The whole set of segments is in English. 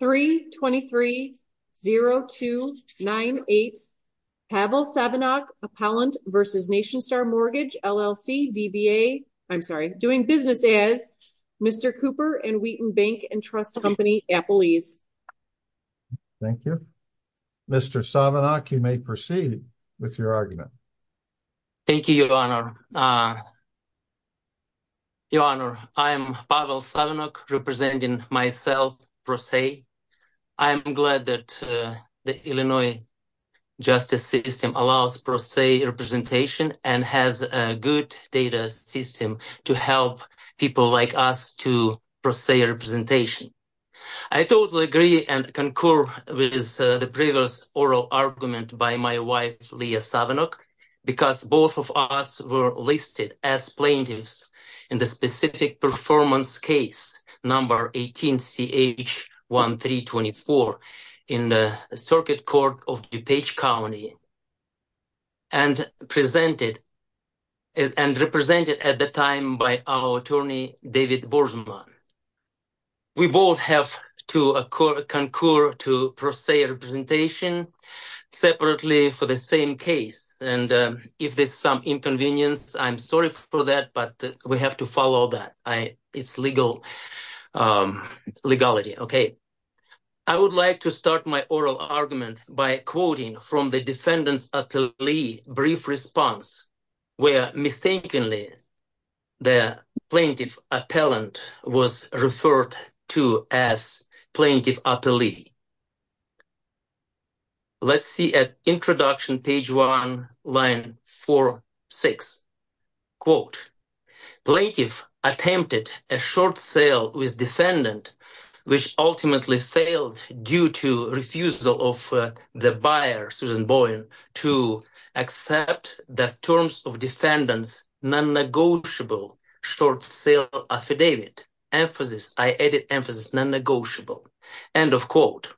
3230298 Pavel Savenok, Appellant v. Nationstar Mortgage LLC, DBA, I'm sorry, doing business as Mr. Cooper and Wheaton Bank and Trust Company, Apple Ease. Thank you. Mr. Savenok, you may proceed with your argument. Thank you, Your Honor. Your Honor, I am Pavel Savenok, representing myself, PROSAE. I am glad that the Illinois justice system allows PROSAE representation and has a good data system to help people like us to PROSAE representation. I totally agree and concur with the previous oral argument by my wife, Leah Savenok, because both of us were listed as plaintiffs in the specific performance case number 18CH1324 in the Circuit Court of DuPage County and represented at the time by our attorney, David Borsman. We both have to concur to PROSAE representation separately for the same case. And if there's some inconvenience, I'm sorry for that, but we have to follow that. It's legal, legality. Okay. I would like to start my oral argument by quoting from the defendant's brief response, where, mythically, the plaintiff appellant was referred to as plaintiff appellee. Let's see at introduction, page one, line four, six. Quote, plaintiff attempted a short sale with except the terms of defendant's non-negotiable short sale affidavit. Emphasis, I added emphasis, non-negotiable. End of quote.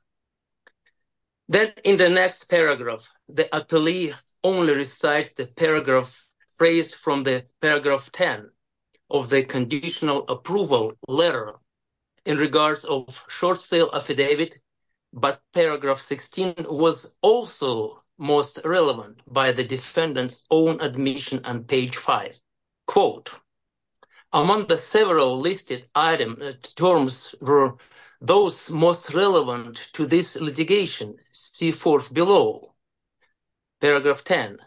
Then in the next paragraph, the appellee only recites the paragraph raised from the paragraph 10 of the conditional approval letter in regards of short sale affidavit, but paragraph 16 was also most relevant by the defendant's own admission on page five. Quote, among the several listed items, terms were those most relevant to this litigation. See fourth below, paragraph 10.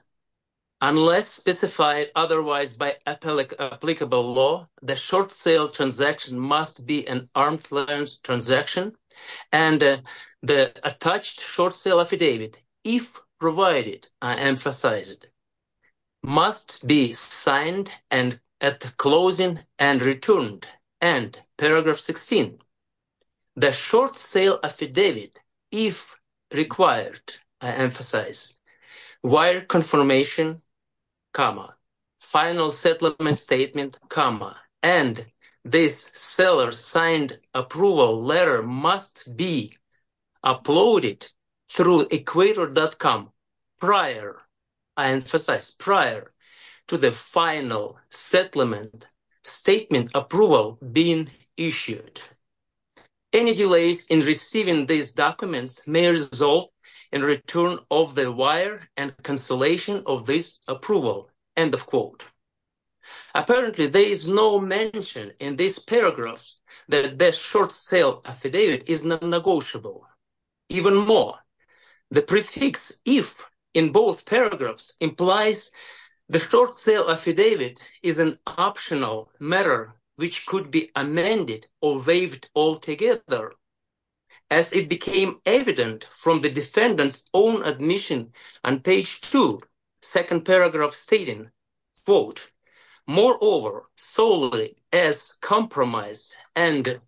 Unless specified otherwise by applicable law, the short sale transaction must be an arm's length transaction and the attached short sale affidavit, if provided, I emphasize it, must be signed and at closing and returned. End, paragraph 16. The short sale affidavit, if required, I emphasize, wire confirmation comma, final settlement statement comma, and this seller signed approval letter must be uploaded through equator.com prior, I emphasize, prior to the final settlement statement approval being issued. Any delays in receiving these documents may result in return of the wire and cancellation of this approval. End of quote. Apparently, there is no mention in these paragraphs that the short sale affidavit is non-negotiable. Even more, the prefix if in both paragraphs implies the short sale affidavit is an optional matter which could be amended or waived altogether. As it became evident from the quote, moreover, solely as compromise and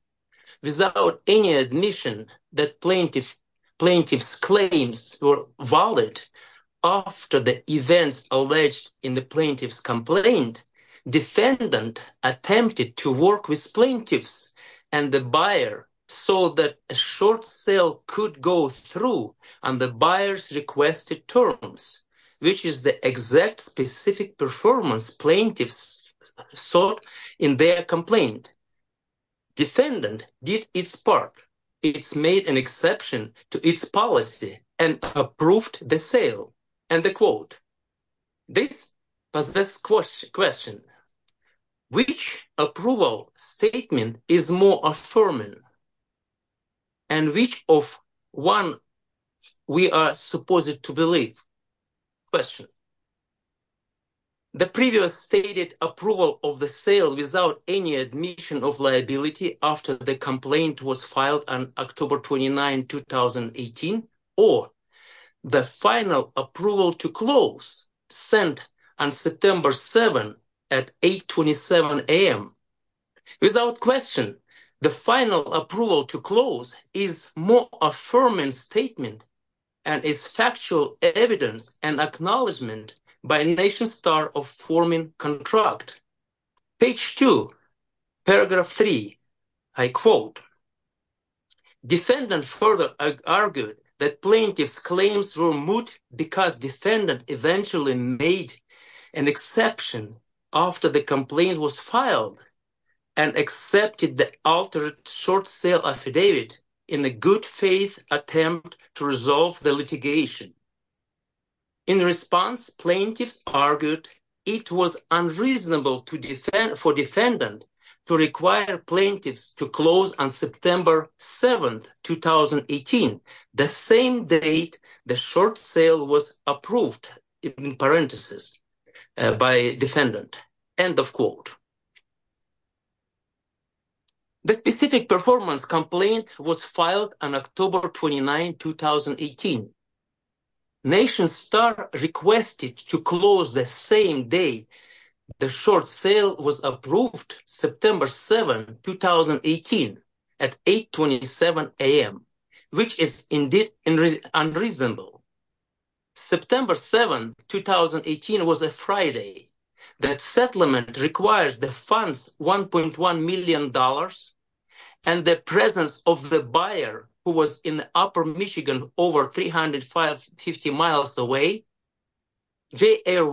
without any admission that plaintiff's claims were valid after the events alleged in the plaintiff's complaint, defendant attempted to work with plaintiffs and the buyer so that a short sale could go through on the buyer's requested terms, which is the exact specific performance plaintiffs sought in their complaint. Defendant did its part. It's made an exception to its policy and approved the sale. End of quote. This poses question, which approval statement is more affirming and which of one we are supposed to believe? The previous stated approval of the sale without any admission of liability after the complaint was filed on October 29, 2018, or the final approval to close sent on September 7 at 8.27 a.m. Without question, the final approval to close is more affirming statement and is factual evidence and acknowledgement by a nation star of forming contract. Page two, paragraph three, I quote, defendant further argued that plaintiff's claims were moot because defendant eventually made an exception after the complaint was filed and accepted the altered short sale affidavit in a good faith attempt to resolve the litigation. In response, plaintiffs argued it was unreasonable to defend for defendant to require plaintiffs to close on September 7, 2018, the same date the short sale was approved in parentheses by defendant. End of quote. The specific performance complaint was filed on October 29, 2018. Nation star requested to close the same day the short sale was approved September 7, 2018 at 8.27 a.m., which is indeed unreasonable. September 7, 2018 was a Friday. That settlement requires the funds $1.1 million and the presence of the buyer who was in upper Michigan over 350 miles away. J.R.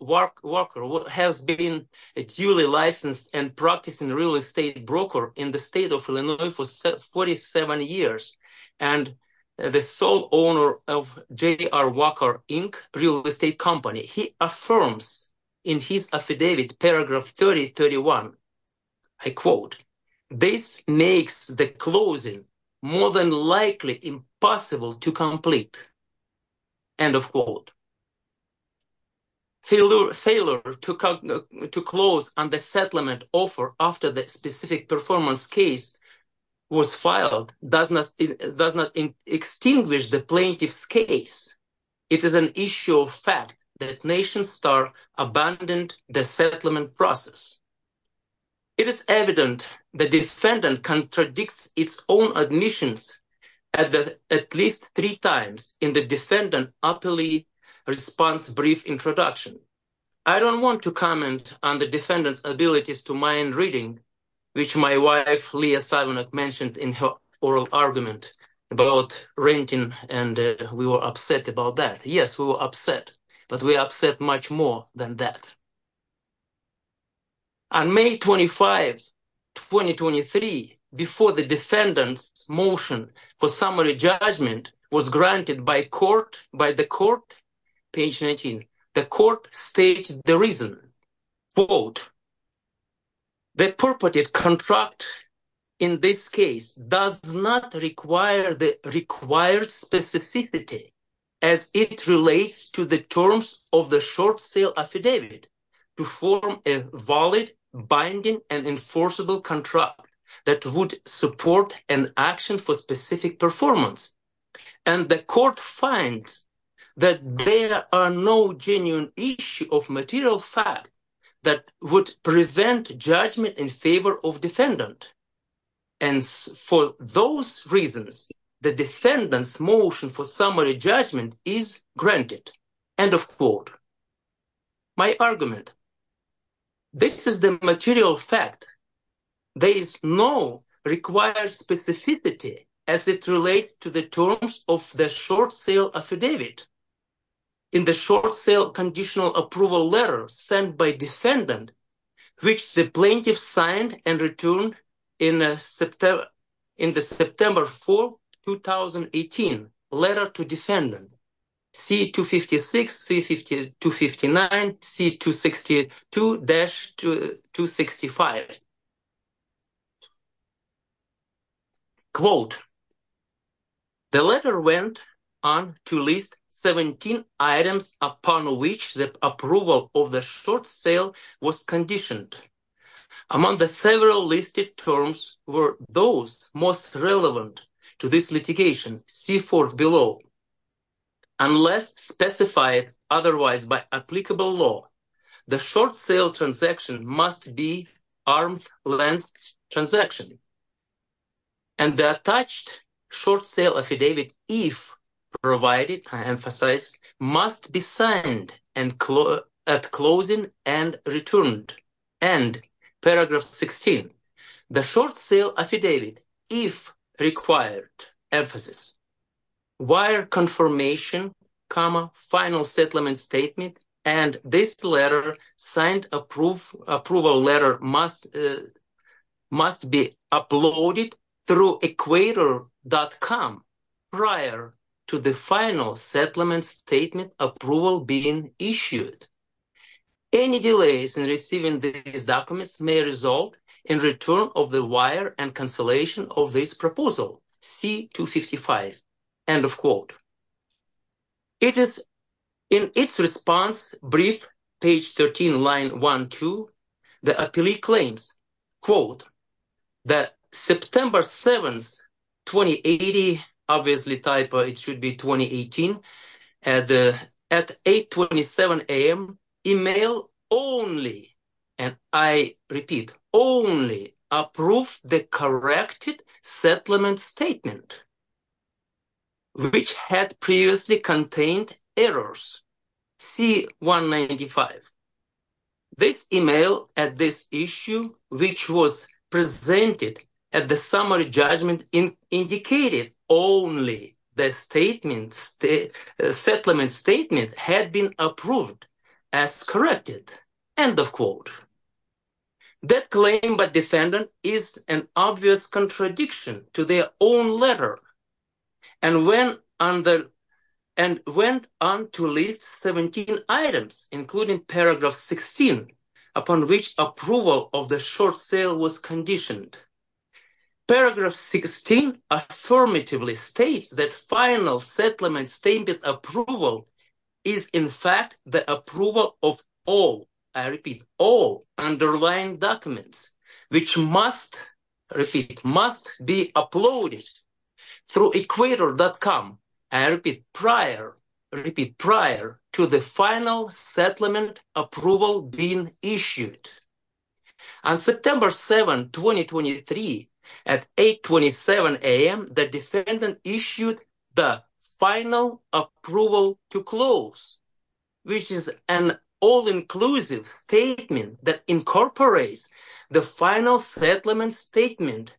Walker has been a duly licensed and practicing real estate broker in the state of Illinois for 47 years and the sole owner of J.R. Walker Inc. real estate company. He affirms in his affidavit, paragraph 3031, I quote, this makes the closing more than likely impossible to complete. End of quote. Failure to close on the settlement offer after the specific performance case was filed does not extinguish the plaintiff's case. It is an issue of fact that Nation Star abandoned the settlement process. It is evident the defendant contradicts its own admissions at least three times in the defendant's appellate response brief introduction. I don't want to comment on the defendant's abilities to mind reading, which my wife Leah Silenok mentioned in her oral argument about renting, and we were upset about that. Yes, we were upset, but we were upset much more than that. On May 25, 2023, before the defendant's motion for summary judgment was granted by the court, page 19, the court stated the reason. Quote, the purported contract in this case does not require the required specificity as it relates to the terms of the short sale affidavit to form a valid binding and enforceable contract that would support an action for specific performance. And the court finds that there are no genuine issue of material fact that would prevent judgment in favor of defendant. And for those reasons, the defendant's motion for summary judgment is granted. End of quote. My argument. This is the material fact. There is no required specificity as it relates to the terms of the short sale affidavit. In the short sale conditional approval letter sent by defendant, which the plaintiff signed and returned in the September 4, 2018, letter to defendant C-256, C-259, C-262-265. Quote, the letter went on to list 17 items upon which the approval of short sale was conditioned. Among the several listed terms were those most relevant to this litigation, C-4 below. Unless specified otherwise by applicable law, the short sale transaction must be arm's length transaction. And the attached short sale affidavit, if provided, I emphasize, must be signed and at closing and returned. And paragraph 16, the short sale affidavit, if required, emphasis, wire confirmation, comma, final settlement statement. And this letter signed approval letter must be uploaded through equator.com prior to the final settlement approval being issued. Any delays in receiving these documents may result in return of the wire and consolation of this proposal, C-255, end of quote. It is in its response brief, page 13, 1-2, the appellee claims, quote, that September 7, 2080, obviously type, it should be 2018, at 827 a.m., email only, and I repeat, only approved the corrected settlement statement which had previously contained errors, C-195. This email at this issue which was presented at the summary judgment indicated only the settlement statement had been approved as end of quote. That claim by defendant is an obvious contradiction to their own letter and went on to list 17 items, including paragraph 16, upon which approval of the short sale was conditioned. Paragraph 16 affirmatively states that final settlement statement approval is, in fact, the approval of all, I repeat, all underlying documents which must be uploaded through equator.com, I repeat, prior to the final settlement approval being issued. On September 7, 2023, at 827 a.m., the defendant issued the final approval to close. Which is an all-inclusive statement that incorporates the final settlement statement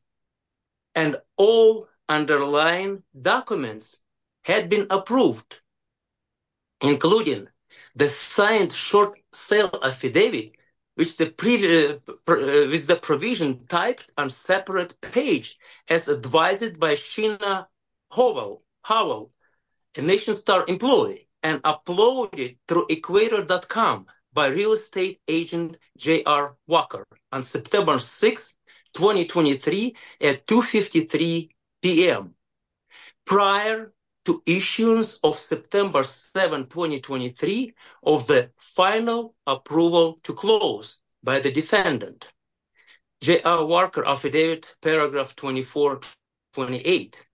and all underlying documents had been approved, including the signed short sale affidavit, which the provision typed on separate page as advised by Sheena Howell, a Nation Star employee, and uploaded through equator.com by real estate agent J.R. Walker on September 6, 2023, at 2.53 p.m., prior to issuance of September 7, 2023, of the final approval to close by the defendant, J.R. Walker affidavit, paragraph 2428.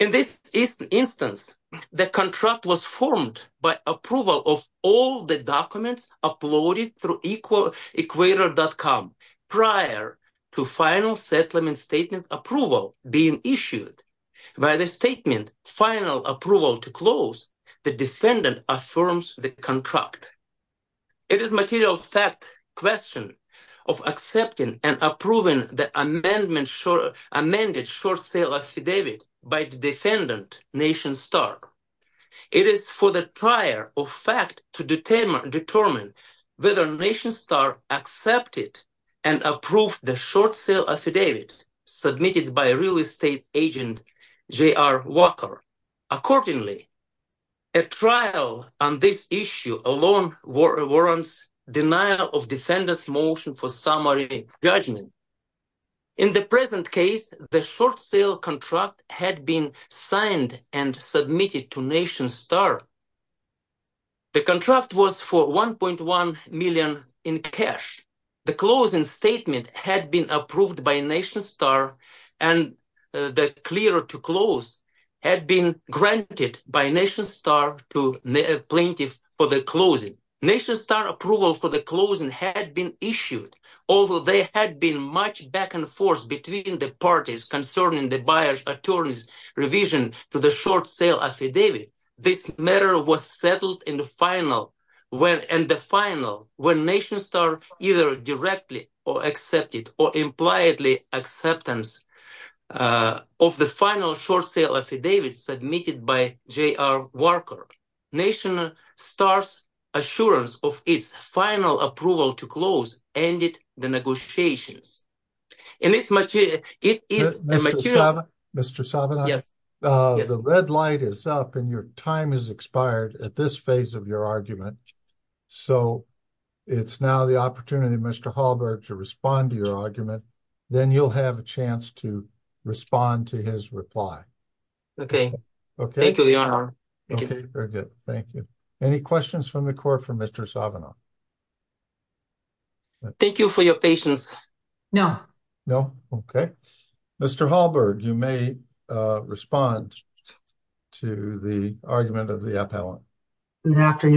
In this instance, the contract was formed by approval of all the documents uploaded through equator.com prior to final settlement statement approval being issued. By the statement, final approval to close, the defendant affirms the contract. It is a material fact question of accepting and approving the amended short sale affidavit by the defendant, Nation Star. It is for the prior of fact to determine whether Nation Star accepted and approved the short sale affidavit submitted by real estate agent J.R. Walker. Accordingly, a trial on this issue alone warrants denial of defendant's motion for summary judgment. In the present case, the short sale contract had been signed and submitted to Nation Star. The contract was for $1.1 million in cash. The closing statement had been approved by Nation Star to the plaintiff for the closing. Nation Star approval for the closing had been issued. Although there had been much back and forth between the parties concerning the buyer's attorney's revision to the short sale affidavit, this matter was settled in the final when Nation Star either directly accepted or implied acceptance of the final short sale affidavit submitted by J.R. Walker. Nation Star's assurance of its final approval to close ended the negotiations. Mr. Sabanak, the red light is up and your time has expired at this opportunity. Mr. Hallberg, you may respond to the argument of the appellant. Mr.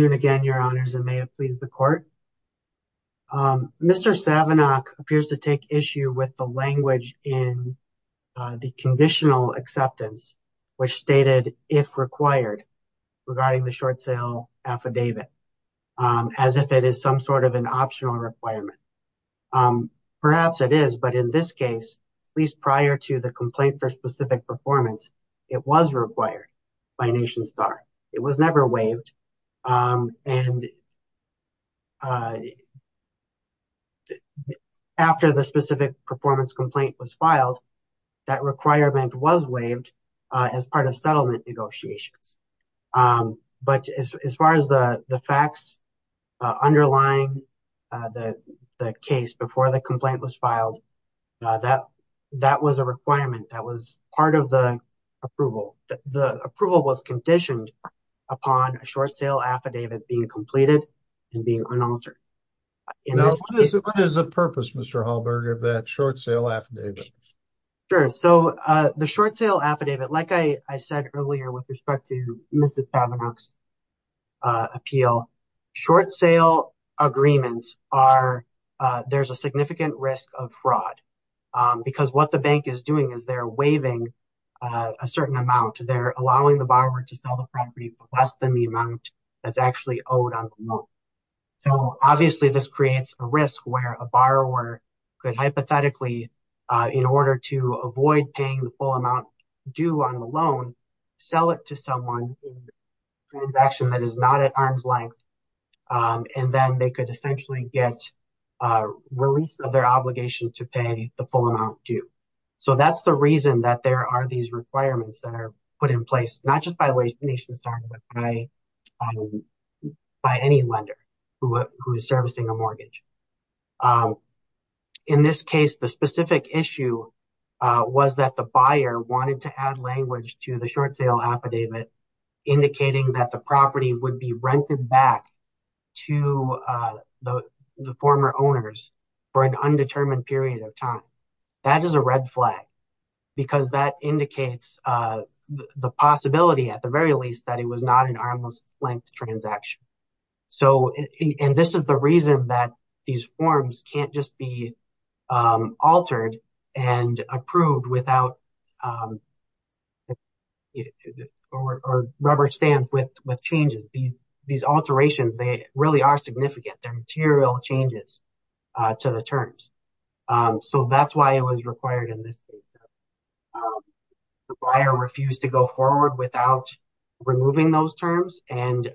Sabanak appears to take issue with the language in the conditional acceptance which stated if required regarding the short sale affidavit as if it is some sort of an optional requirement. Perhaps it is, but in this case, at least prior to the complaint for specific performance, it was required by Nation Star. It was never waived and after the specific performance complaint was filed, that requirement was waived as part of settlement negotiations. As far as the facts underlying the case before the complaint was approved, the approval was conditioned upon a short sale affidavit being completed and being unauthored. What is the purpose of that short sale affidavit? The short sale affidavit, like I said earlier with respect to Mr. Sabanak's appeal, short sale agreements are there's a significant risk of fraud because what the bank is doing is waiving a certain amount. They're allowing the borrower to sell the property for less than the amount that's actually owed on the loan. So obviously this creates a risk where a borrower could hypothetically, in order to avoid paying the full amount due on the loan, sell it to someone in a transaction that is not at arm's length and then they could essentially get release of their obligation to pay the full amount due. So that's the reason that there are these requirements that are put in place, not just by Nation Star, but by any lender who is servicing a mortgage. In this case, the specific issue was that the buyer wanted to add language to the short sale affidavit indicating that the property would be rented back to the owners for an undetermined period of time. That is a red flag because that indicates the possibility at the very least that it was not an arm's length transaction. And this is the reason that these forms can't just be altered and approved without a rubber stamp with changes. These alterations, they really are significant. They're material changes to the terms. So that's why it was required in this case. The buyer refused to go forward without removing those terms. The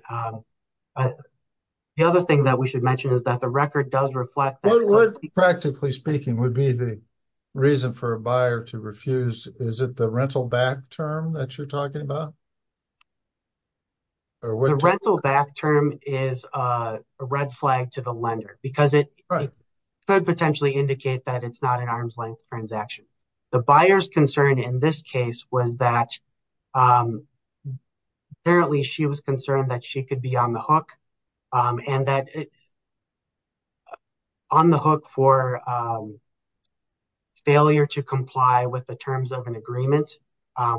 other thing that we should mention is that the record does reflect that. What, practically speaking, would be the reason for a buyer to refuse? Is it the rental back term that you're talking about? The rental back term is a red flag to the lender because it could potentially indicate that it's not an arm's length transaction. The buyer's concern in this case was that apparently she was concerned that she could be on the hook for failure to comply with the terms of an agreement. I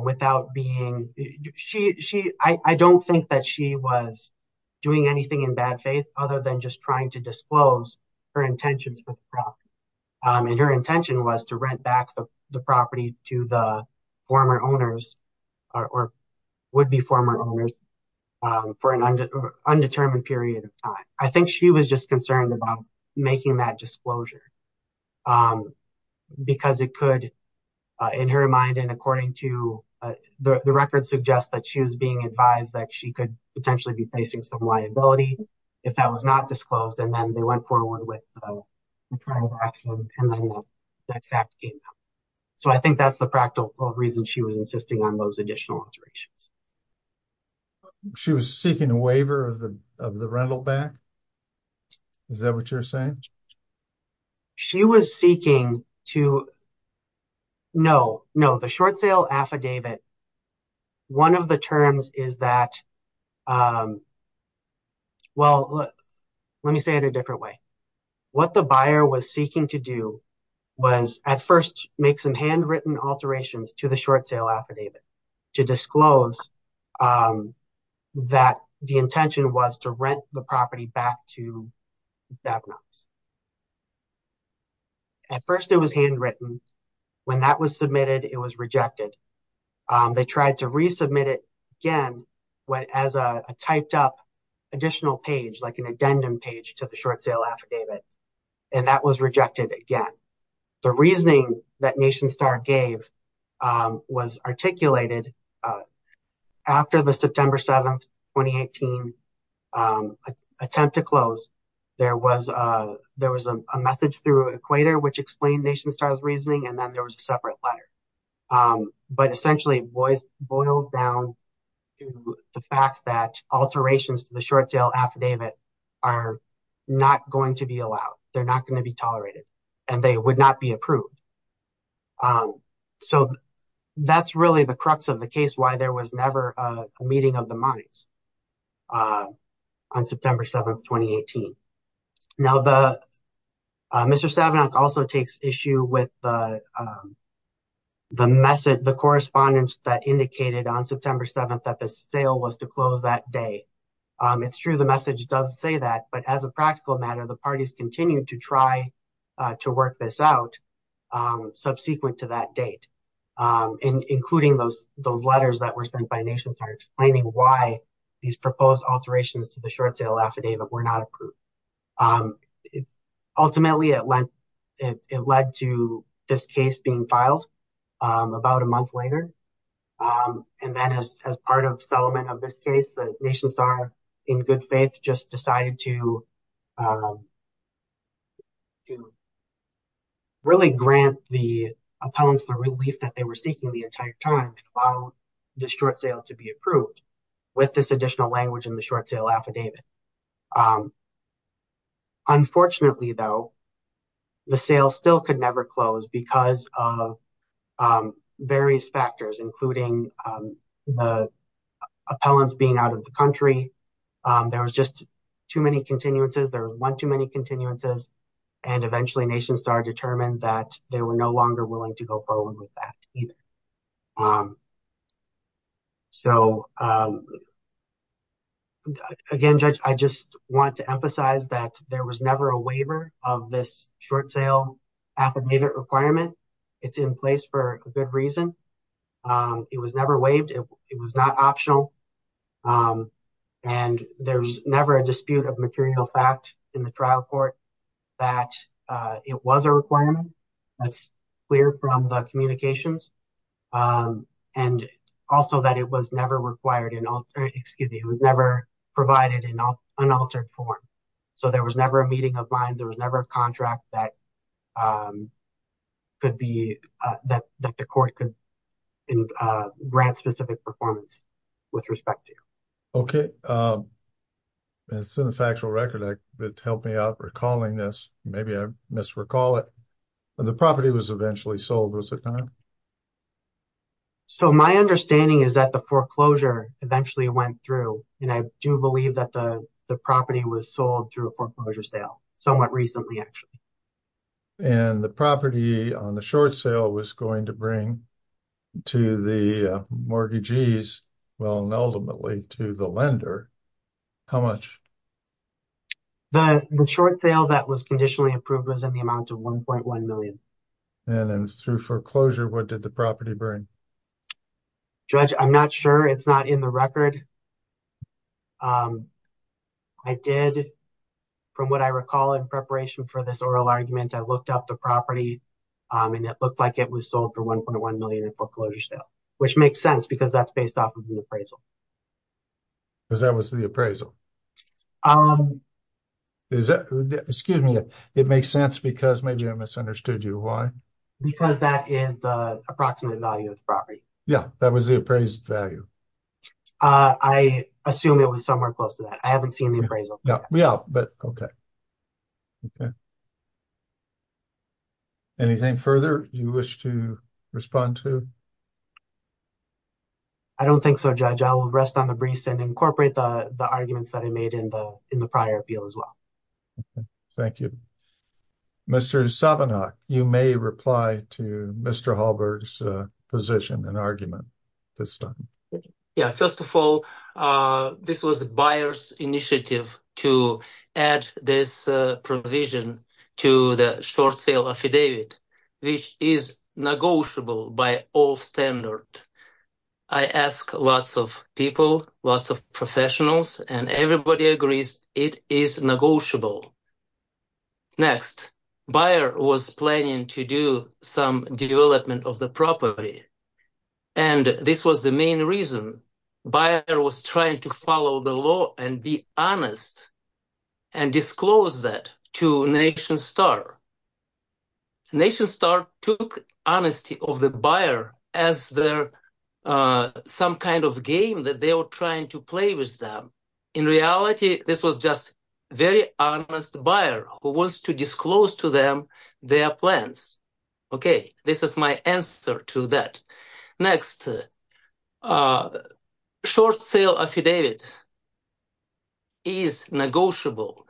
don't think that she was doing anything in bad faith other than just trying to disclose her intentions with the property. And her intention was to rent back the property to the former owners or would-be former owners for an undetermined period of time. I think she was just concerned about making that disclosure because it could, in her mind and according to the record, suggest that she was being advised that she could potentially be facing some liability if that was not disclosed. And then they went forward with the transaction and then the next act came out. So I think that's the practical reason she was insisting on those additional alterations. She was seeking a waiver of the rental back? Is that what you're saying? No, the short sale affidavit, one of the terms is that, well, let me say it a different way. What the buyer was seeking to do was at first make some handwritten alterations to the short sale affidavit to disclose that the intention was to rent the property back to DAPNOX. At first, it was handwritten. When that was submitted, it was rejected. They tried to resubmit it again as a typed up additional page, like an addendum page to the short sale affidavit. And that was rejected again. The reasoning that NationStar gave was articulated after the September 7th, 2018 attempt to close. There was a message through Equator, which explained NationStar's reasoning, and then there was a separate letter. But essentially, it boils down to the fact that alterations to the short sale affidavit are not going to be allowed. They're not going to be tolerated and they would not be approved. So, that's really the crux of the case why there was never a meeting of the minds on September 7th, 2018. Now, Mr. Savinok also takes issue with the correspondence that indicated on September 7th that the sale was to close that day. It's true the message does say that, but as a practical matter, the parties continue to try to work this out. Subsequent to that date, including those letters that were sent by NationStar explaining why these proposed alterations to the short sale affidavit were not approved. Ultimately, it led to this case being filed about a month later. And then as part of this case, NationStar, in good faith, just decided to really grant the opponents the relief that they were seeking the entire time to allow the short sale to be approved with this additional language in the short sale affidavit. Unfortunately, though, the sale still could never close because of various factors, including the appellants being out of the country. There was just too many continuances. There were one too many continuances and eventually NationStar determined that they were no longer willing to go forward with that either. So, again, Judge, I just want to emphasize that there was never a waived. It was not optional. And there's never a dispute of material fact in the trial court that it was a requirement. That's clear from the communications. And also that it was never provided in unaltered form. So there was never a meeting of minds. There was never a contract that could be that the court could grant specific performance with respect to. Okay. It's in the factual record that helped me out recalling this. Maybe I misrecall it. The property was eventually sold. Was it not? So my understanding is that the foreclosure eventually went through. And I do believe that the property was sold through a foreclosure sale somewhat recently, actually. And the property on the short sale was going to bring to the mortgagees, well, and ultimately to the lender. How much? The short sale that was conditionally approved was in the amount of $1.1 million. And then through foreclosure, what did the property bring? Judge, I'm not sure. It's not in the record. I did, from what I recall, in preparation for this oral argument, I looked up the property and it looked like it was sold for $1.1 million in foreclosure sale, which makes sense because that's based off of the appraisal. Because that was the appraisal. Is that, excuse me, it makes sense because maybe I misunderstood you. Why? Because that is the approximate value of the property. Yeah, that was the appraised value. I assume it was somewhere close to that. I haven't seen the appraisal. Yeah, but okay. Anything further you wish to respond to? I don't think so, Judge. I will rest on the briefs and incorporate the arguments that I made in the prior appeal as well. Thank you. Mr. Sabanock, you may reply to Mr. Hallberg's position and argument this time. Yeah, first of all, this was the buyer's initiative to add this provision to the short sale affidavit, which is negotiable by all standards. I asked lots of people, lots of professionals, and everybody agrees it is negotiable. Next, buyer was planning to do some development of the property. And this was the main reason. Buyer was trying to follow the law and be honest and disclose that to NationStar. NationStar took honesty of the buyer as some kind of game that they were trying to play with them. In reality, this was just a very honest buyer who wants to disclose to them their plans. Okay, this is my answer to that. Next, short sale affidavit is negotiable.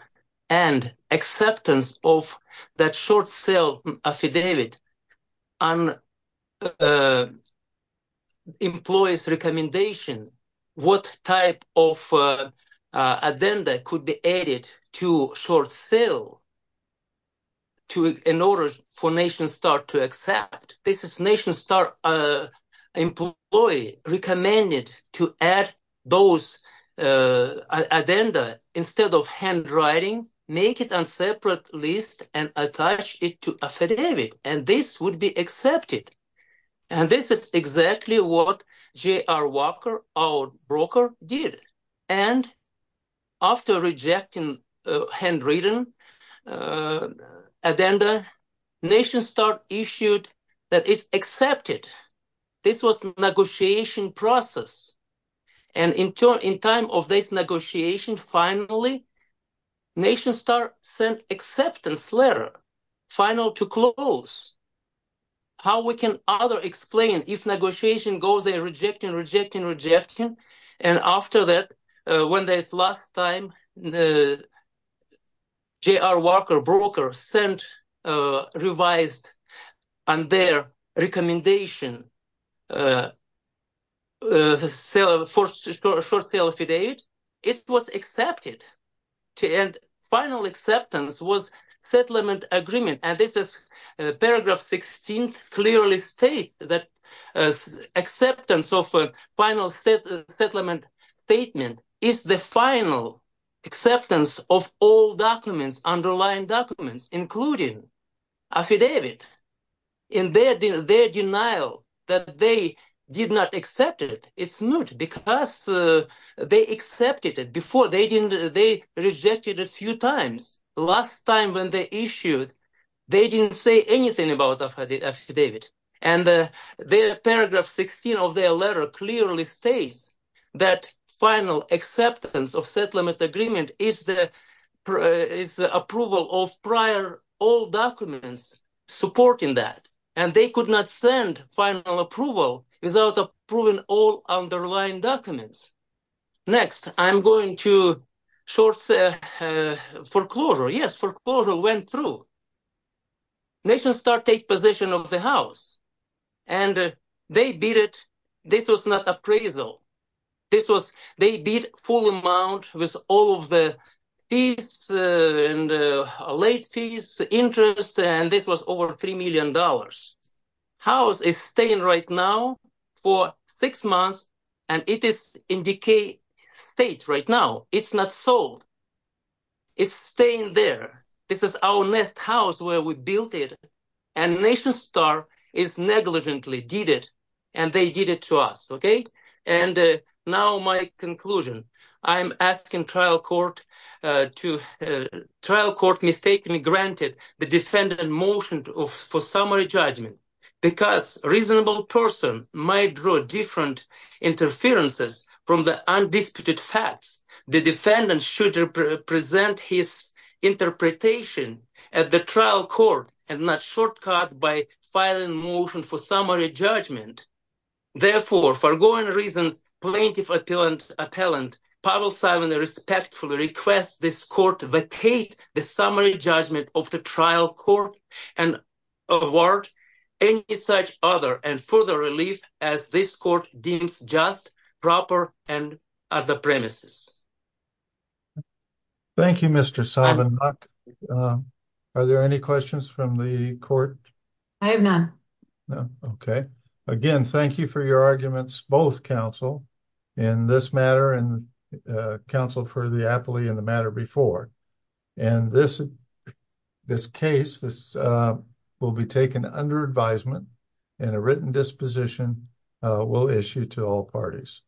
And acceptance of that short sale affidavit on employee's recommendation, what type of agenda could be added to short sale affidavit in order for NationStar to accept? This is NationStar employee recommended to add those agenda instead of handwriting, make it on separate list and attach it to affidavit, and this would be accepted. And this is exactly what J.R. Walker, our broker, did. And after rejecting handwritten agenda, NationStar issued that it's accepted. This was negotiation process. And in time of this negotiation, finally, NationStar sent acceptance letter, final to close. How we can either explain if negotiation goes there, rejecting, rejecting, rejecting, and after that, when there's last time, J.R. Walker broker sent revised on their recommendation for short sale affidavit, it was accepted. And final acceptance was settlement agreement. And this is paragraph 16 clearly states that acceptance of final settlement statement is the final acceptance of all documents, underlying documents, including affidavit. In their denial that they did not accept it, it's not because they accepted it before. They rejected a few times. Last time when they issued, they didn't say anything about affidavit. And their paragraph 16 of their letter clearly states that final acceptance of settlement agreement is the approval of prior all documents supporting that. And they could not send final approval without approving all underlying documents. Next, I'm going to short foreclosure. Yes, foreclosure went through. NationStar take position of the house and they beat it. This was not appraisal. This was they beat full amount with all of the fees and late fees, interest. And this was over $3 million. House is staying right now for six months, and it is in decay state right now. It's not sold. It's staying there. This is our nest house where we built it. And NationStar is negligently did it. And they did it to us. Okay. And now my conclusion, I'm asking trial court to trial court mistakenly granted the defendant motion for summary judgment because a reasonable person might draw different interferences from the undisputed facts. The defendant should present his interpretation at the trial court and not shortcut by filing motion for summary judgment. Therefore, for going reasons, plaintiff appellant, Pavel Simon respectfully requests this court to vacate the summary judgment of the trial court and award any such other and further relief as this court deems just, proper and at the premises. Thank you, Mr. Simon. Are there any questions from the court? I have none. Okay. Again, thank you for your arguments, both counsel in this matter and counsel for the appellee in the matter before. And this case, this will be taken under advisement and a written disposition will issue to all parties.